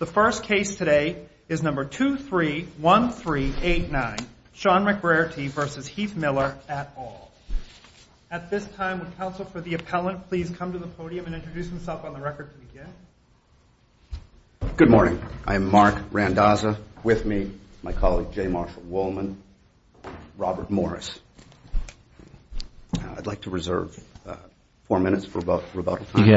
at all. At this time, would counsel for the appellant please come to the podium and introduce himself on the record to begin? Good morning. I am Mark Randazza. With me, my colleague J. Marshall Wollman, Robert Morris. I'd like to reserve four minutes for rebuttal. You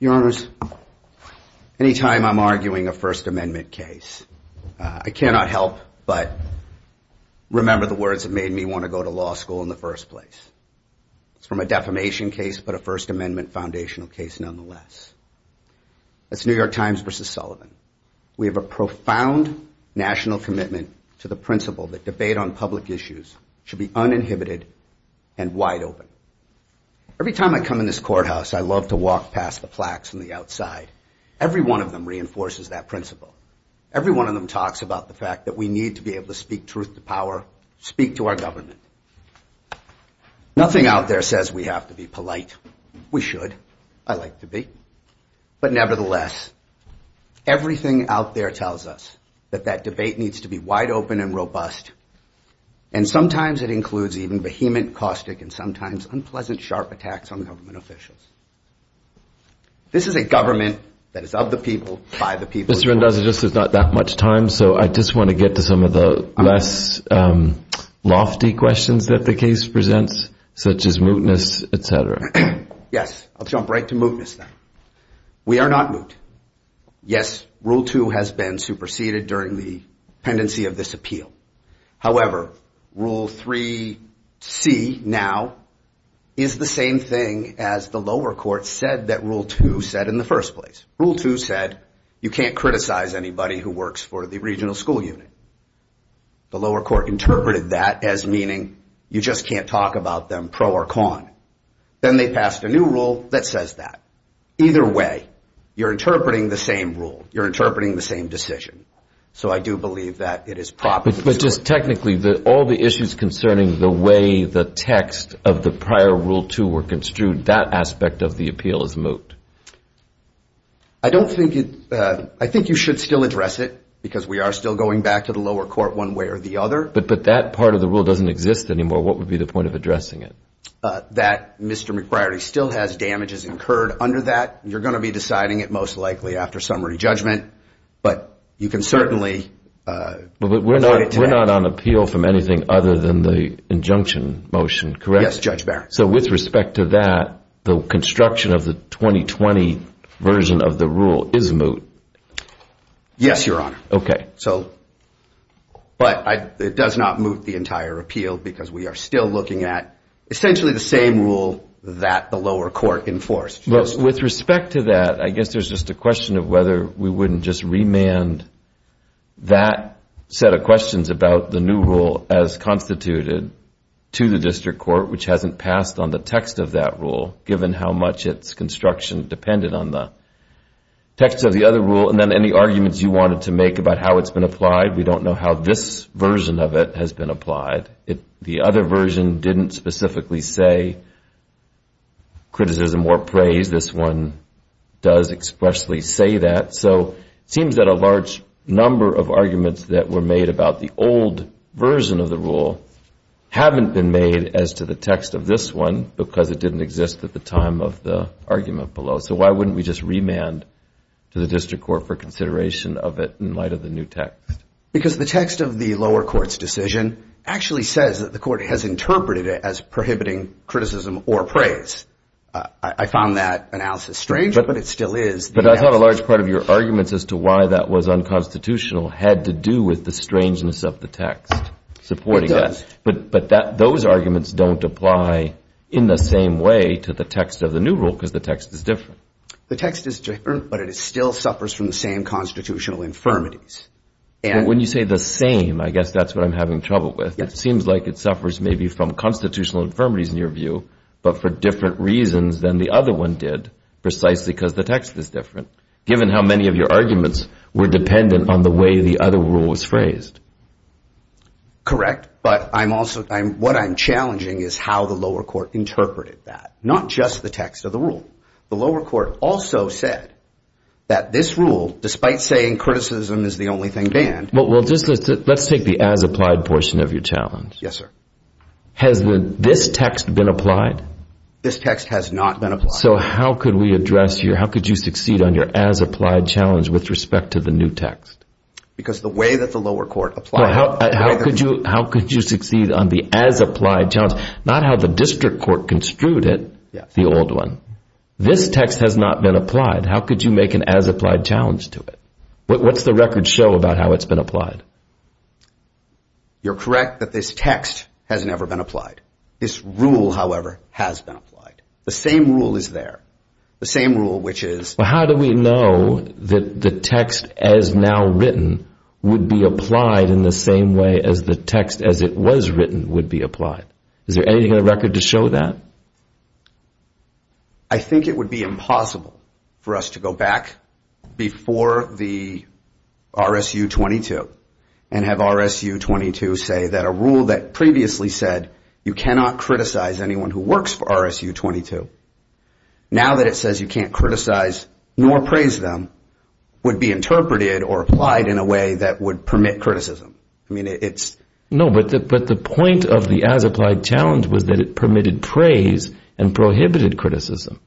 Your Honors, any time I'm arguing a First Amendment case, I cannot help but remember the words that made me want to go to law school in the first place. It's from a defamation case, but a First Amendment foundational case nonetheless. That's New York Times v. Sullivan. We have a profound national commitment to the principle that debate on public issues should be uninhibited and wide open. Every time I come in this courthouse, I love to walk past the plaques on the outside. Every one of them reinforces that principle. Every one of them talks about the fact that we need to be able to speak truth to power, speak to our government. Nothing out there says we have to be polite. We should. I like to But nevertheless, everything out there tells us that that debate needs to be wide open and robust, and sometimes it includes even vehement, caustic, and sometimes unpleasant sharp attacks on government officials. This is a government that is of the people, by the people. Mr. Randazza, this is not that much time, so I just want to get to some of the less lofty questions that the case presents, such as mootness, etc. Yes, I'll jump right to mootness, then. We are not moot. Yes, Rule 2 has been superseded during the pendency of this appeal. However, Rule 3C now is the same thing as the lower court said that Rule 2 said in the first place. Rule 2 said you can't criticize anybody who works for the regional school unit. The lower court interpreted that as meaning you just can't talk about them pro or con. Then they passed a new rule that says that. Either way, you're interpreting the same rule. You're interpreting the same decision. So I do believe that it is proper. But just technically, all the issues concerning the way the text of the prior Rule 2 were construed, that aspect of the appeal is moot. I think you should still address it, because we are still going back to the lower court one way or the other. But that part of the that Mr. McBriarty still has damages incurred under that. You're going to be deciding it most likely after summary judgment. But you can certainly. But we're not on appeal from anything other than the injunction motion, correct? Yes, Judge Barrett. So with respect to that, the construction of the 2020 version of the rule is moot. Yes, Your Honor. Okay. But it does not moot the entire appeal, because we are still looking at essentially the same rule that the lower court enforced. With respect to that, I guess there's just a question of whether we wouldn't just remand that set of questions about the new rule as constituted to the district court, which hasn't passed on the text of that rule, given how much its construction depended on the text of the other rule. And then any arguments you wanted to apply, we don't know how this version of it has been applied. The other version didn't specifically say criticism or praise. This one does expressly say that. So it seems that a large number of arguments that were made about the old version of the rule haven't been made as to the text of this one, because it didn't exist at the time of the argument below. So why wouldn't we just remand to the district court for consideration of it in the context of the new text? Because the text of the lower court's decision actually says that the court has interpreted it as prohibiting criticism or praise. I found that analysis strange, but it still is. But I thought a large part of your arguments as to why that was unconstitutional had to do with the strangeness of the text supporting that. But those arguments don't apply in the same way to the text of the new rule, because the text is different. The text is different, but it still suffers from the same constitutional infirmities. When you say the same, I guess that's what I'm having trouble with. It seems like it suffers maybe from constitutional infirmities in your view, but for different reasons than the other one did, precisely because the text is different, given how many of your arguments were dependent on the way the other rule was phrased. Correct. But what I'm challenging is how the lower court interpreted that, not just the lower court. The lower court also said that this rule, despite saying criticism is the only thing banned... Let's take the as-applied portion of your challenge. Yes, sir. Has this text been applied? This text has not been applied. So how could we address your... How could you succeed on your as-applied challenge with respect to the new text? Because the way that the lower court applied... How could you succeed on the as-applied challenge? Not how the district court construed it, the old one. This text has not been applied. How could you make an as-applied challenge to it? What's the record show about how it's been applied? You're correct that this text has never been applied. This rule, however, has been applied. The same rule is there. The same rule, which is... How do we know that the text as now written would be applied in the same way as the text as it was written would be applied? Is there anything in the record to show that? I think it would be impossible for us to go back before the RSU 22 and have RSU 22 say that a rule that previously said you cannot criticize anyone who works for RSU 22, now that it says you can't criticize nor praise them, would be interpreted or applied in a way that would permit criticism. I mean, it's... No, but the point of the as-applied challenge was that it permitted praise and prohibited criticism.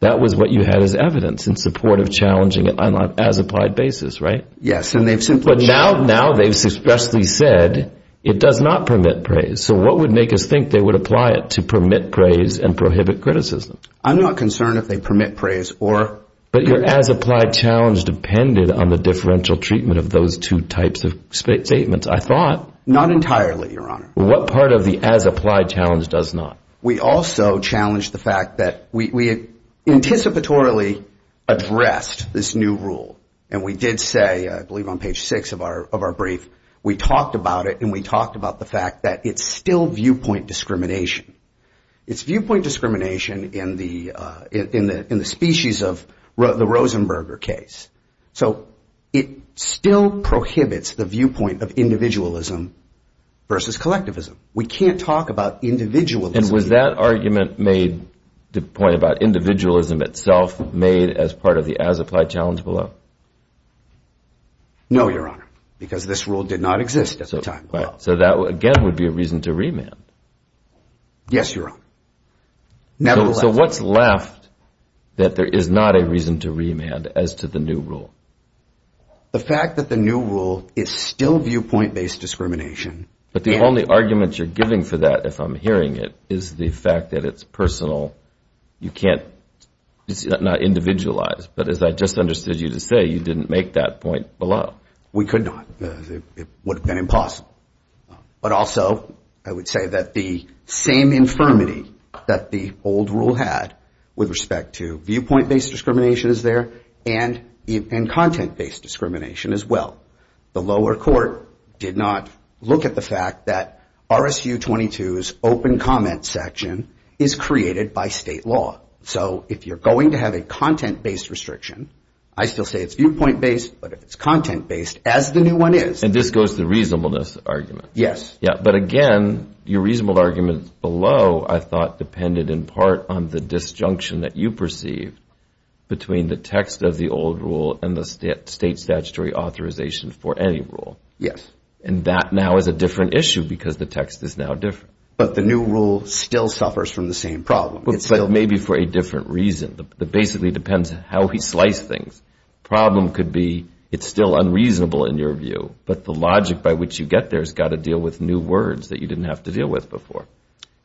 That was what you had as evidence in support of challenging it on an as-applied basis, right? Yes, and they've simply... Now they've expressly said it does not permit praise. So what would make us think they would apply it to permit praise and prohibit criticism? I'm not concerned if they permit praise or... But your as-applied challenge depended on the differential treatment of those two types of statements, I thought. Not entirely, Your Honor. What part of the as-applied challenge does not? We also challenged the fact that we anticipatorily addressed this new rule. And we did say, I believe on page six of our brief, we talked about it and we talked about the fact that it's still viewpoint discrimination. It's viewpoint discrimination in the species of the Rosenberger case. So it still prohibits the viewpoint of individualism versus collectivism. We can't talk about individualism... And was that argument made, the point about individualism itself, made as part of the as-applied challenge below? No, Your Honor, because this rule did not exist at the time. So that again would be a reason to remand. Yes, Your Honor. So what's left that there is not a reason to remand as to the new rule? The fact that the new rule is still viewpoint-based discrimination. But the only argument you're giving for that, if I'm hearing it, is the fact that it's personal. You can't... It's not individualized. But as I just understood you to say, you didn't make that point below. We could not. It would have been impossible. But also, I would say that the same infirmity that the old rule had with respect to viewpoint-based discrimination is there and content-based discrimination as well. The lower court did not look at the fact that RSU 22's open comment section is created by state law. So if you're going to have a content-based restriction, I still say it's viewpoint-based, but if it's content-based, as the new one is... And this goes to the reasonableness argument. Yes. But again, your reasonable argument below, I thought, depended in part on the disjunction that you perceive between the text of the old rule and the state statutory authorization for any rule. Yes. And that now is a different issue because the text is now different. But the new rule still suffers from the same problem. But maybe for a different reason. It basically depends on how we slice things. The problem could be it's still unreasonable in your view, but the logic by which you get there has got to deal with new words that you didn't have to deal with before.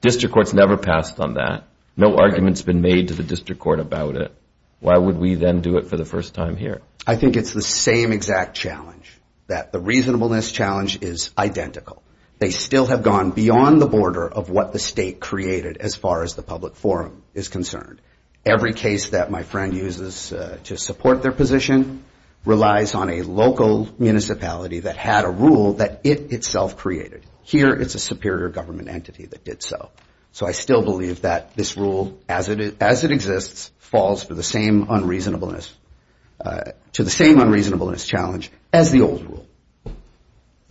District courts never passed on that. No argument's been made to the district court about it. Why would we then do it for the first time here? I think it's the same exact challenge, that the reasonableness challenge is identical. They still have gone beyond the border of what the state created as far as the public forum is concerned. Every case that my friend uses to support their position relies on a local municipality that had a rule that it itself created. Here, it's a superior government entity that did so. So I still believe that this rule, as it exists, falls to the same unreasonableness challenge as the old rule.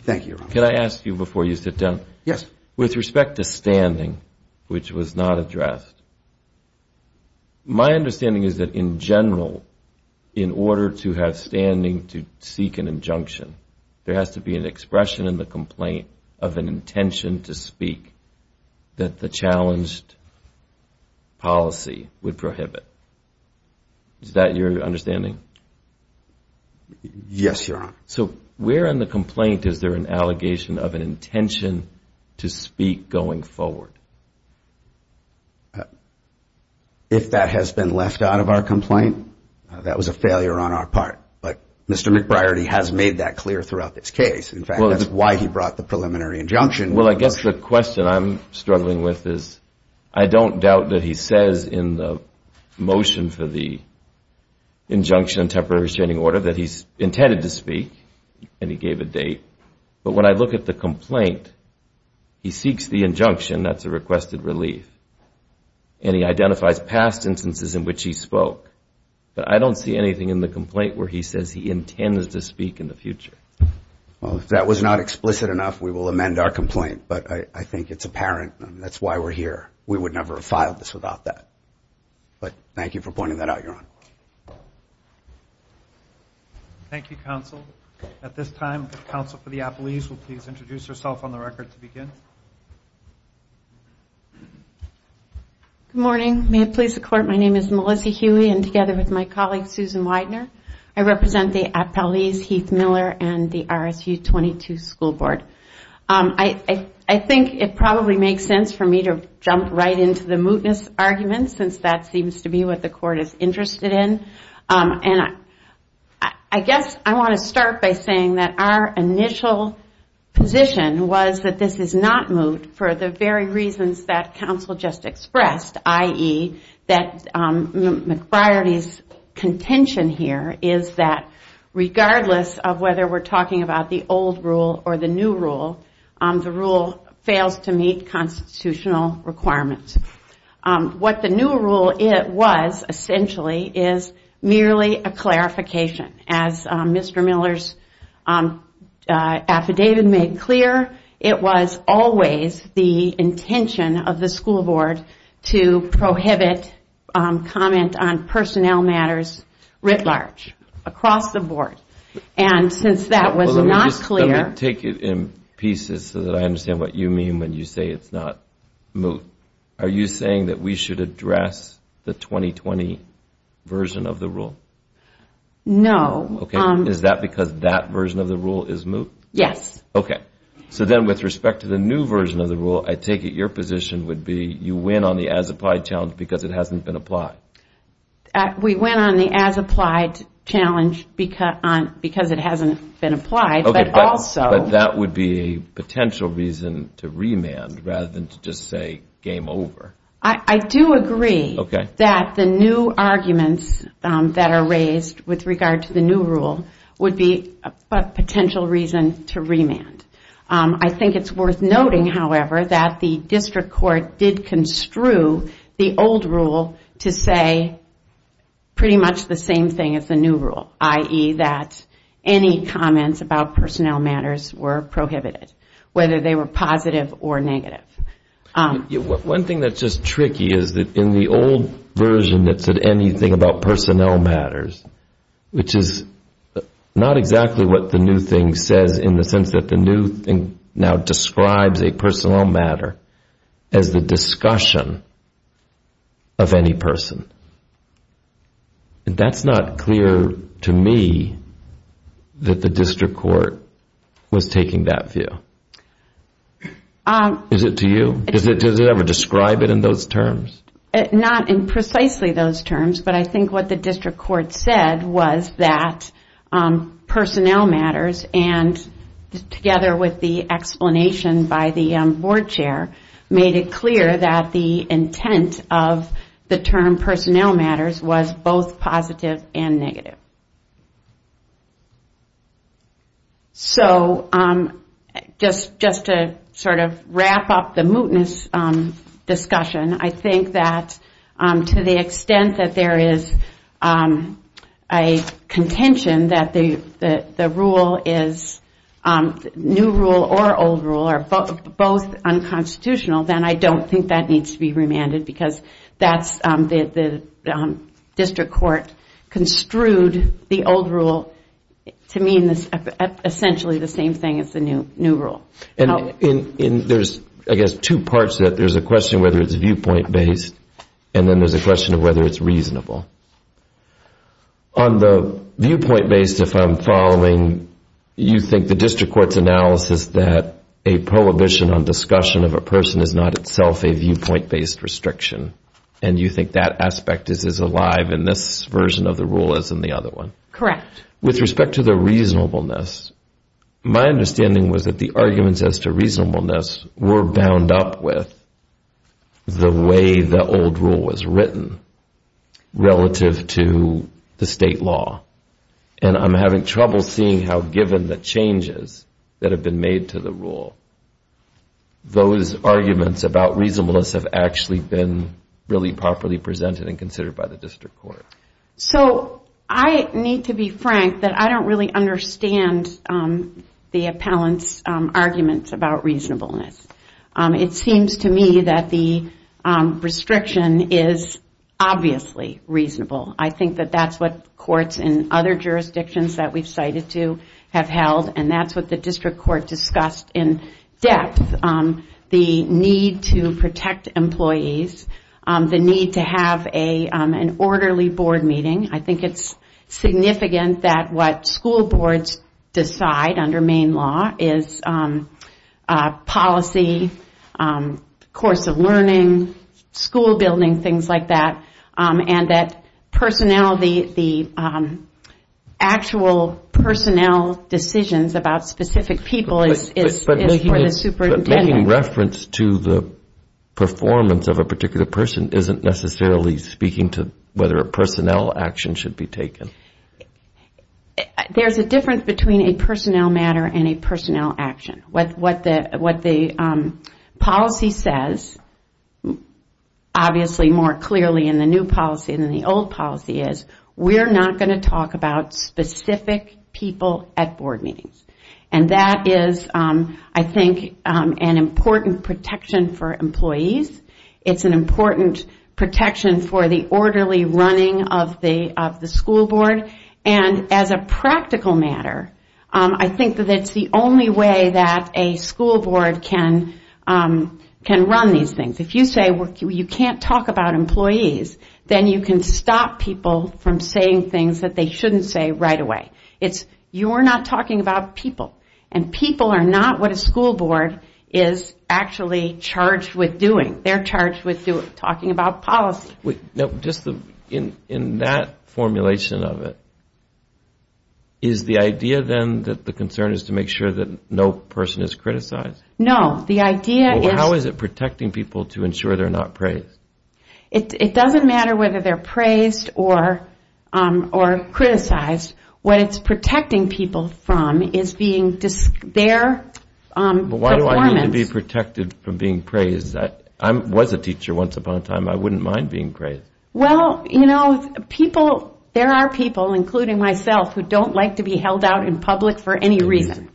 Thank you, Your Honor. Can I ask you before you sit down? Yes. With respect to standing, which was not addressed, my understanding is that in general, in order to have standing, to seek an injunction, there has to be an expression in the complaint of an intention to speak that the challenged policy would prohibit. Is that your understanding? Yes, Your Honor. So where in the complaint is there an allegation of an intention to speak going forward? If that has been left out of our complaint, that was a failure on our part. But Mr. McBriarty has made that clear throughout this case. In fact, that's why he brought the preliminary injunction. Well, I guess the question I'm struggling with is, I don't doubt that he says in the motion for the injunction, temporary restraining order, that he's intended to speak and he gave a date. But when I look at the complaint, he seeks the injunction, that's a requested relief. And he identifies past instances in which he spoke. But I don't see anything in the complaint where he says he intends to speak in the future. Well, if that was not explicit enough, we will amend our complaint. But I think it's apparent and that's why we're here. We would never have filed this without that. But thank you for pointing that out, Your Honor. Thank you, counsel. At this time, the counsel for the appellees will please introduce herself on the record to begin. Good morning. May it please the court, my name is Melissa Huey and together with my colleague Susan Widener, I represent the appellees, Heath Miller and the RSU 22 School Board. I think it probably makes sense for me to jump right into the mootness argument since that seems to be what the court is interested in. I guess I want to start by saying that our initial position was that this is not moot for the very reasons that counsel just expressed, i.e., that McBriarty's contention here is that regardless of whether we're talking about the old rule or the new rule, the rule fails to meet constitutional requirements. What the new rule was essentially is merely a clarification. As Mr. Miller's affidavit made clear, it was always the intention of the school board to prohibit comment on personnel matters writ large, across the board. And since that was not clear... Let me take it in pieces so that I understand what you mean when you say it's not moot. Are you saying that we should address the 2020 version of the rule? No. Is that because that version of the rule is moot? Yes. So then with respect to the new version of the rule, I take it your position would be you win on the as-applied challenge because it hasn't been applied? We win on the as-applied challenge because it hasn't been applied, but also... But that would be a potential reason to remand rather than to just say, game over. I do agree that the new arguments that are raised with regard to the new rule would be a potential reason to remand. I think it's worth noting, however, that the district court did construe the old rule to say pretty much the same thing as the new rule, i.e. that any comments about personnel matters were prohibited, whether they were positive or negative. One thing that's just tricky is that in the old version that said anything about personnel matters, which is not exactly what the new thing says in the sense that the new thing now describes a personnel matter as the discussion of any person. That's not clear to me that the district court was taking that view. Is it to you? Does it ever describe it in those terms? Not in precisely those terms, but I think what the district court said was that personnel matters, together with the explanation by the board chair, made it clear that the intent of the term personnel matters was both positive and negative. Just to wrap up the mootness discussion, I think that to the extent that there is a contention that the new rule or old rule are both unconstitutional, then I don't think that needs to be remanded because the district court construed the old rule to mean essentially the same thing as the new rule. There's two parts to that. There's a question of whether it's viewpoint based and then there's a question of whether it's reasonable. On the viewpoint based, if I'm following, you think the district court's analysis that a prohibition on discussion of a person is not itself a viewpoint based restriction and you think that aspect is as alive in this version of the rule as in the other one? Correct. With respect to the reasonableness, my understanding was that the arguments as to reasonableness were bound up with the way the old rule was written relative to the state law. I'm having trouble seeing how given the changes that have been made to the rule, those arguments about reasonableness have actually been properly presented and considered by the district court. I need to be frank that I don't really understand the appellant's arguments about reasonableness. It seems to me that the restriction is obviously reasonable. I think that's what courts in other jurisdictions that we've cited to have held and that's what the district court discussed in depth. The need to protect employees, the need to have an orderly board meeting, I think it's significant that what school boards decide under Maine law is policy, course of learning, school building, things like that. The actual personnel decisions about specific people is for the superintendent. Making reference to the performance of a particular person isn't necessarily speaking to whether a personnel action should be taken. There's a difference between a personnel matter and a personnel action. What the policy says, obviously more clearly in the new policy than the old policy is, we're not going to talk about specific people at board meetings. That is, I think, an important protection for employees. It's an important protection for the orderly running of the school board. As a practical matter, I think that it's the only way that a school board can run these things. If you say you can't talk about employees, then you can stop people from saying things that they shouldn't say right away. You're not talking about people. People are not what a school board is actually charged with doing. They're charged with talking about policy. In that formulation of it, is the idea then that the concern is to make sure that no person is criticized? No. How is it protecting people to ensure they're not praised? It doesn't matter whether they're praised or criticized. What it's protecting people from is their performance. Why do I need to be protected from being praised? I was a teacher once upon a time. I wouldn't mind being praised. There are people, including myself, who don't like to be held out in public for any reason.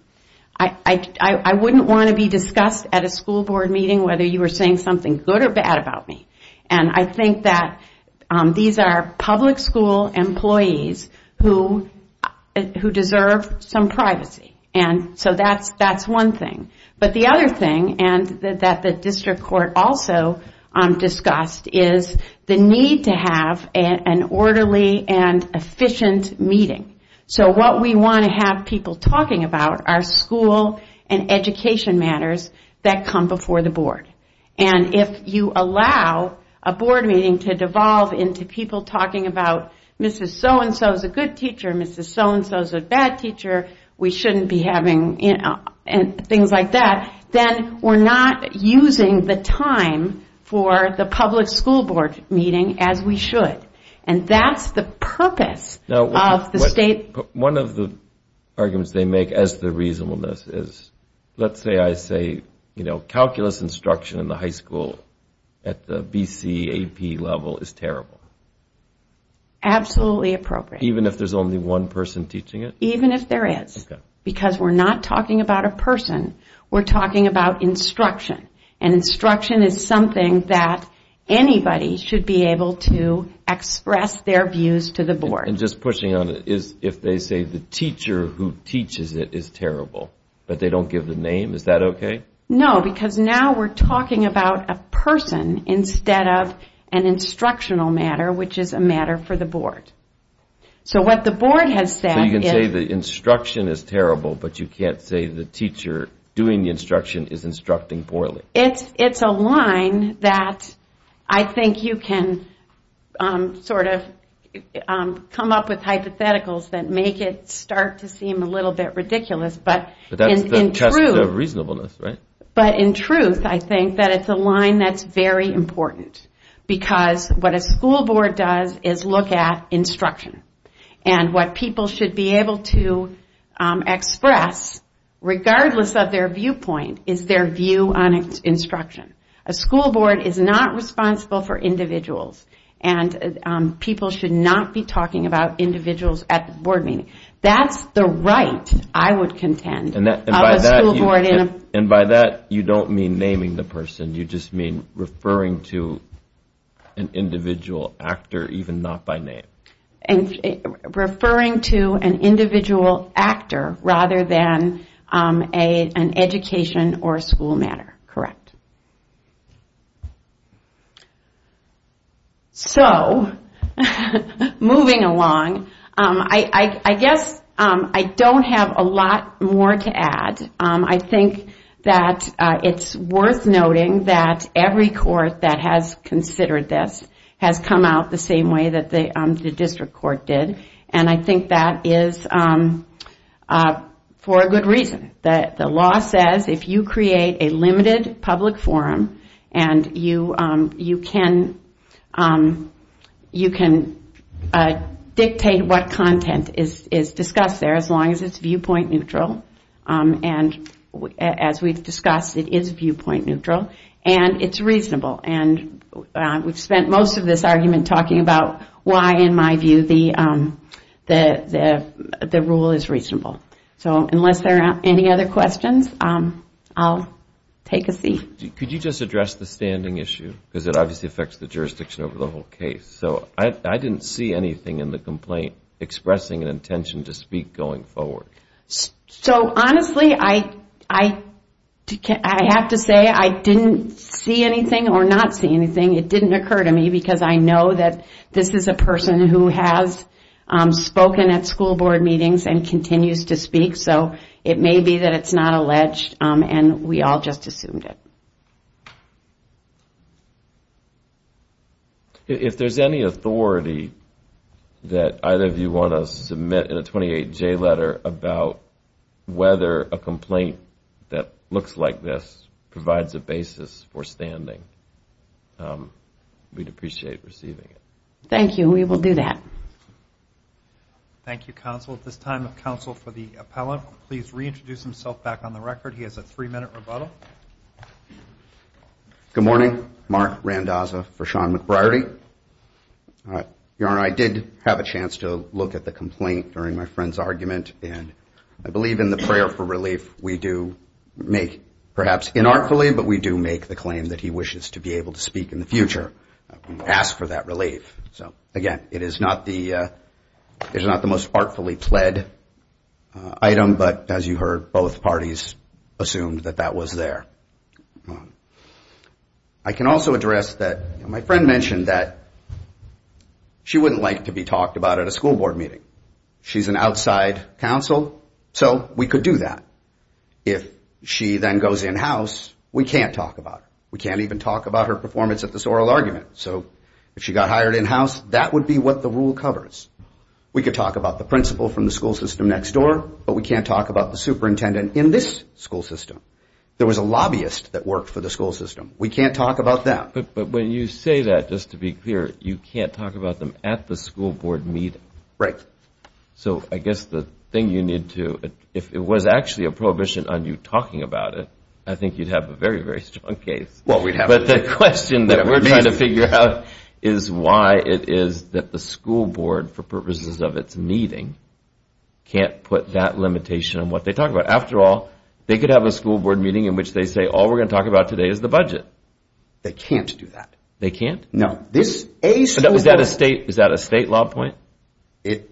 I wouldn't want to be discussed at a school board meeting whether you were saying something good or bad about me. I think that these are public school employees who deserve some privacy. That's one thing. The other thing that the district court also discussed is the need to have an orderly and efficient meeting. What we want to have people talking about are school and education matters that come before the board. If you allow a board meeting to devolve into people talking about, Mrs. So-and-so is a good teacher, Mrs. So-and-so is a bad teacher, we shouldn't be having things like that, then we're not using the time for the public school board meeting as we should. That's the purpose of the state... One of the arguments they make as to reasonableness is, let's say I say, calculus instruction in the high school at the BCAP level is terrible. Absolutely appropriate. Even if there's only one person teaching it? Even if there is. Because we're not talking about a person, we're talking about instruction. Instruction is something that anybody should be able to express their views to the board. Just pushing on it, if they say the teacher who teaches it is terrible, but they don't give the name, is that okay? No, because now we're talking about a person instead of an instructional matter, which is a matter for the board. So what the board has said is... So you can say the instruction is terrible, but you can't say the teacher doing the instruction is instructing poorly. It's a line that I think you can sort of come up with hypotheticals that make it start to seem a little bit ridiculous, but in truth I think that it's a line that's very important. Because what a school board does is look at instruction. And what people should be able to express, regardless of their viewpoint, is their view on instruction. A school board is not responsible for individuals, and people should not be talking about individuals at the board meeting. That's the right, I would contend, of a school board. And by that you don't mean naming the person, you just mean referring to an individual actor, even not by name. Referring to an individual actor rather than an education or school matter, correct. So moving along, I guess I don't have a lot more to add. I think that it's worth noting that every court that has considered this has come out the same way that the district court did. And I think that is for a good reason. The law says if you create a limited public forum, you can dictate what content is discussed there as long as it's viewpoint neutral. And as we've discussed, it is viewpoint neutral, and it's reasonable. And we've spent most of this argument talking about why, in my view, the rule is reasonable. So unless there are any other questions, I'll take a seat. Could you just address the standing issue? Because it obviously affects the jurisdiction over the whole case. So I didn't see anything in the complaint expressing an intention to speak going forward. So honestly, I have to say I didn't see anything or not see anything. It didn't occur to me because I know that this is a person who has spoken at school board meetings and continues to speak. So it may be that it's not alleged, and we all just assumed it. If there's any authority that either of you want to submit in a 28J letter about whether a complaint that looks like this provides a basis for standing, we'd appreciate receiving it. Thank you. We will do that. Thank you, counsel. At this time, counsel for the appellant will please reintroduce himself back on the record. He has a three-minute rebuttal. Good morning. Mark Randazza for Sean McBriarty. Your Honor, I did have a chance to look at the complaint during my friend's argument, and I believe in the prayer for relief, we do make perhaps inartfully, but we do make the claim that he wishes to be able to speak in the future and ask for that relief. So again, it is not the most artfully pled item, but as you heard, both parties assumed that that was there. I can also address that my friend mentioned that she wouldn't like to be talked about at a school board meeting. She's an outside counsel, so we could do that. If she then goes in-house, we can't talk about her. We can't even talk about her performance at this oral argument. So if she got hired in-house, that would be what the rule covers. We could talk about the principal from the school system next door, but we can't talk about the superintendent in this school system. There was a lobbyist that worked for the school system. We can't talk about that. But when you say that, just to be clear, you can't talk about them at the school board meeting? Right. So I guess the thing you need to, if it was actually a prohibition on you talking about it, I think you'd have a very, very strong case. Well, we'd have to. But the question that we're trying to figure out is why it is that the school board, for all, they could have a school board meeting in which they say, all we're going to talk about today is the budget. They can't do that. They can't? No. Is that a state law point? It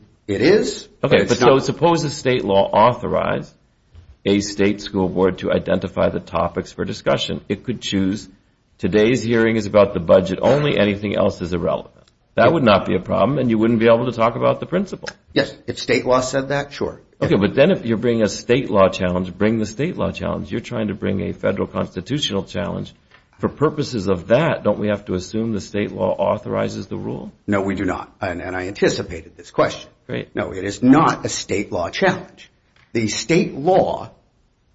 is. Okay. So suppose the state law authorized a state school board to identify the topics for discussion. It could choose, today's hearing is about the budget only, anything else is irrelevant. That would not be a problem, and you wouldn't be able to talk about the principal. Yes. If state law said that, sure. Okay. But then if you're bringing a state law challenge, bring the state law challenge. You're trying to bring a federal constitutional challenge. For purposes of that, don't we have to assume the state law authorizes the rule? No, we do not. And I anticipated this question. Great. No, it is not a state law challenge. The state law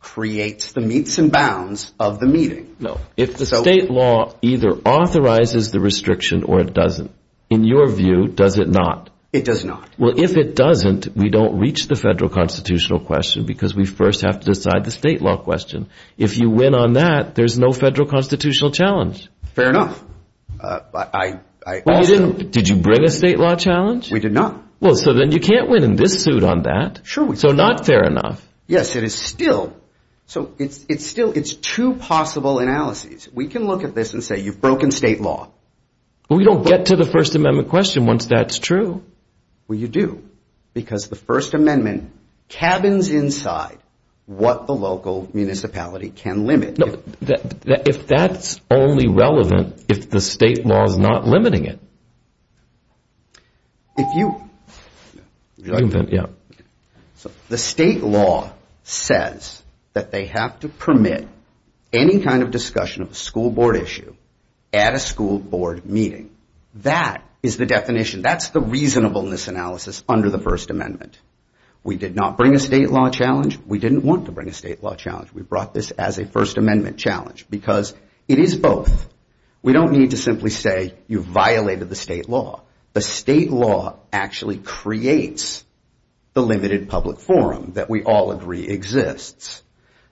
creates the meets and bounds of the meeting. No. If the state law either authorizes the restriction or it doesn't, in your view, does it not? It does not. Well, if it doesn't, we don't reach the federal constitutional question because we first have to decide the state law question. If you win on that, there's no federal constitutional challenge. Fair enough. I also... Did you bring a state law challenge? We did not. Well, so then you can't win in this suit on that. Sure. So not fair enough. Yes, it is still. So it's two possible analyses. We can look at this and say, you've broken state law. We don't get to the First Amendment question once that's true. Well, you do. Because the First Amendment cabins inside what the local municipality can limit. No, if that's only relevant if the state law is not limiting it. If you... Yeah. So the state law says that they have to permit any kind of discussion of a school board issue at a school board meeting. That is the definition. That's the reasonableness analysis under the First Amendment. We did not bring a state law challenge. We didn't want to bring a state law challenge. We brought this as a First Amendment challenge because it is both. We don't need to simply say, you violated the state law. The state law actually creates the limited public forum that we all agree exists.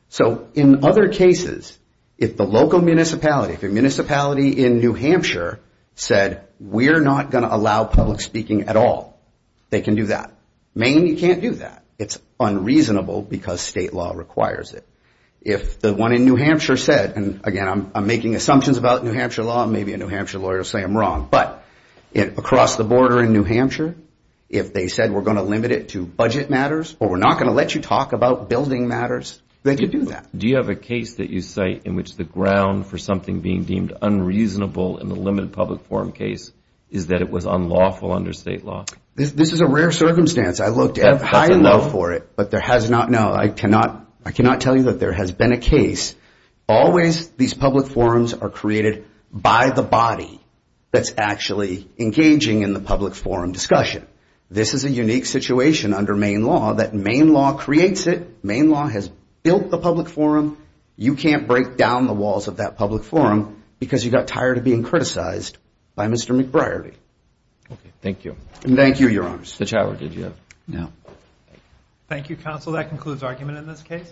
So in other cases, if the local municipality, if a municipality in New Hampshire said, we're not going to allow public speaking at all, they can do that. Maine, you can't do that. It's unreasonable because state law requires it. If the one in New Hampshire said, and again, I'm making assumptions about New Hampshire law and maybe a New Hampshire lawyer will say I'm wrong, but across the border in New Hampshire, if they said we're going to limit it to budget matters or we're not going to let you talk about building matters, they could do that. Do you have a case that you cite in which the ground for something being deemed unreasonable in the limited public forum case is that it was unlawful under state law? This is a rare circumstance. I looked at it. I have high love for it, but there has not no, I cannot, I cannot tell you that there has been a case. Always these public forums are created by the body that's actually engaging in the public forum discussion. This is a case. State law creates it. Maine law has built the public forum. You can't break down the walls of that public forum because you got tired of being criticized by Mr. McBriarty. Thank you. And thank you, your honors. The challenge did you have? No. Thank you, counsel. That concludes argument in this case.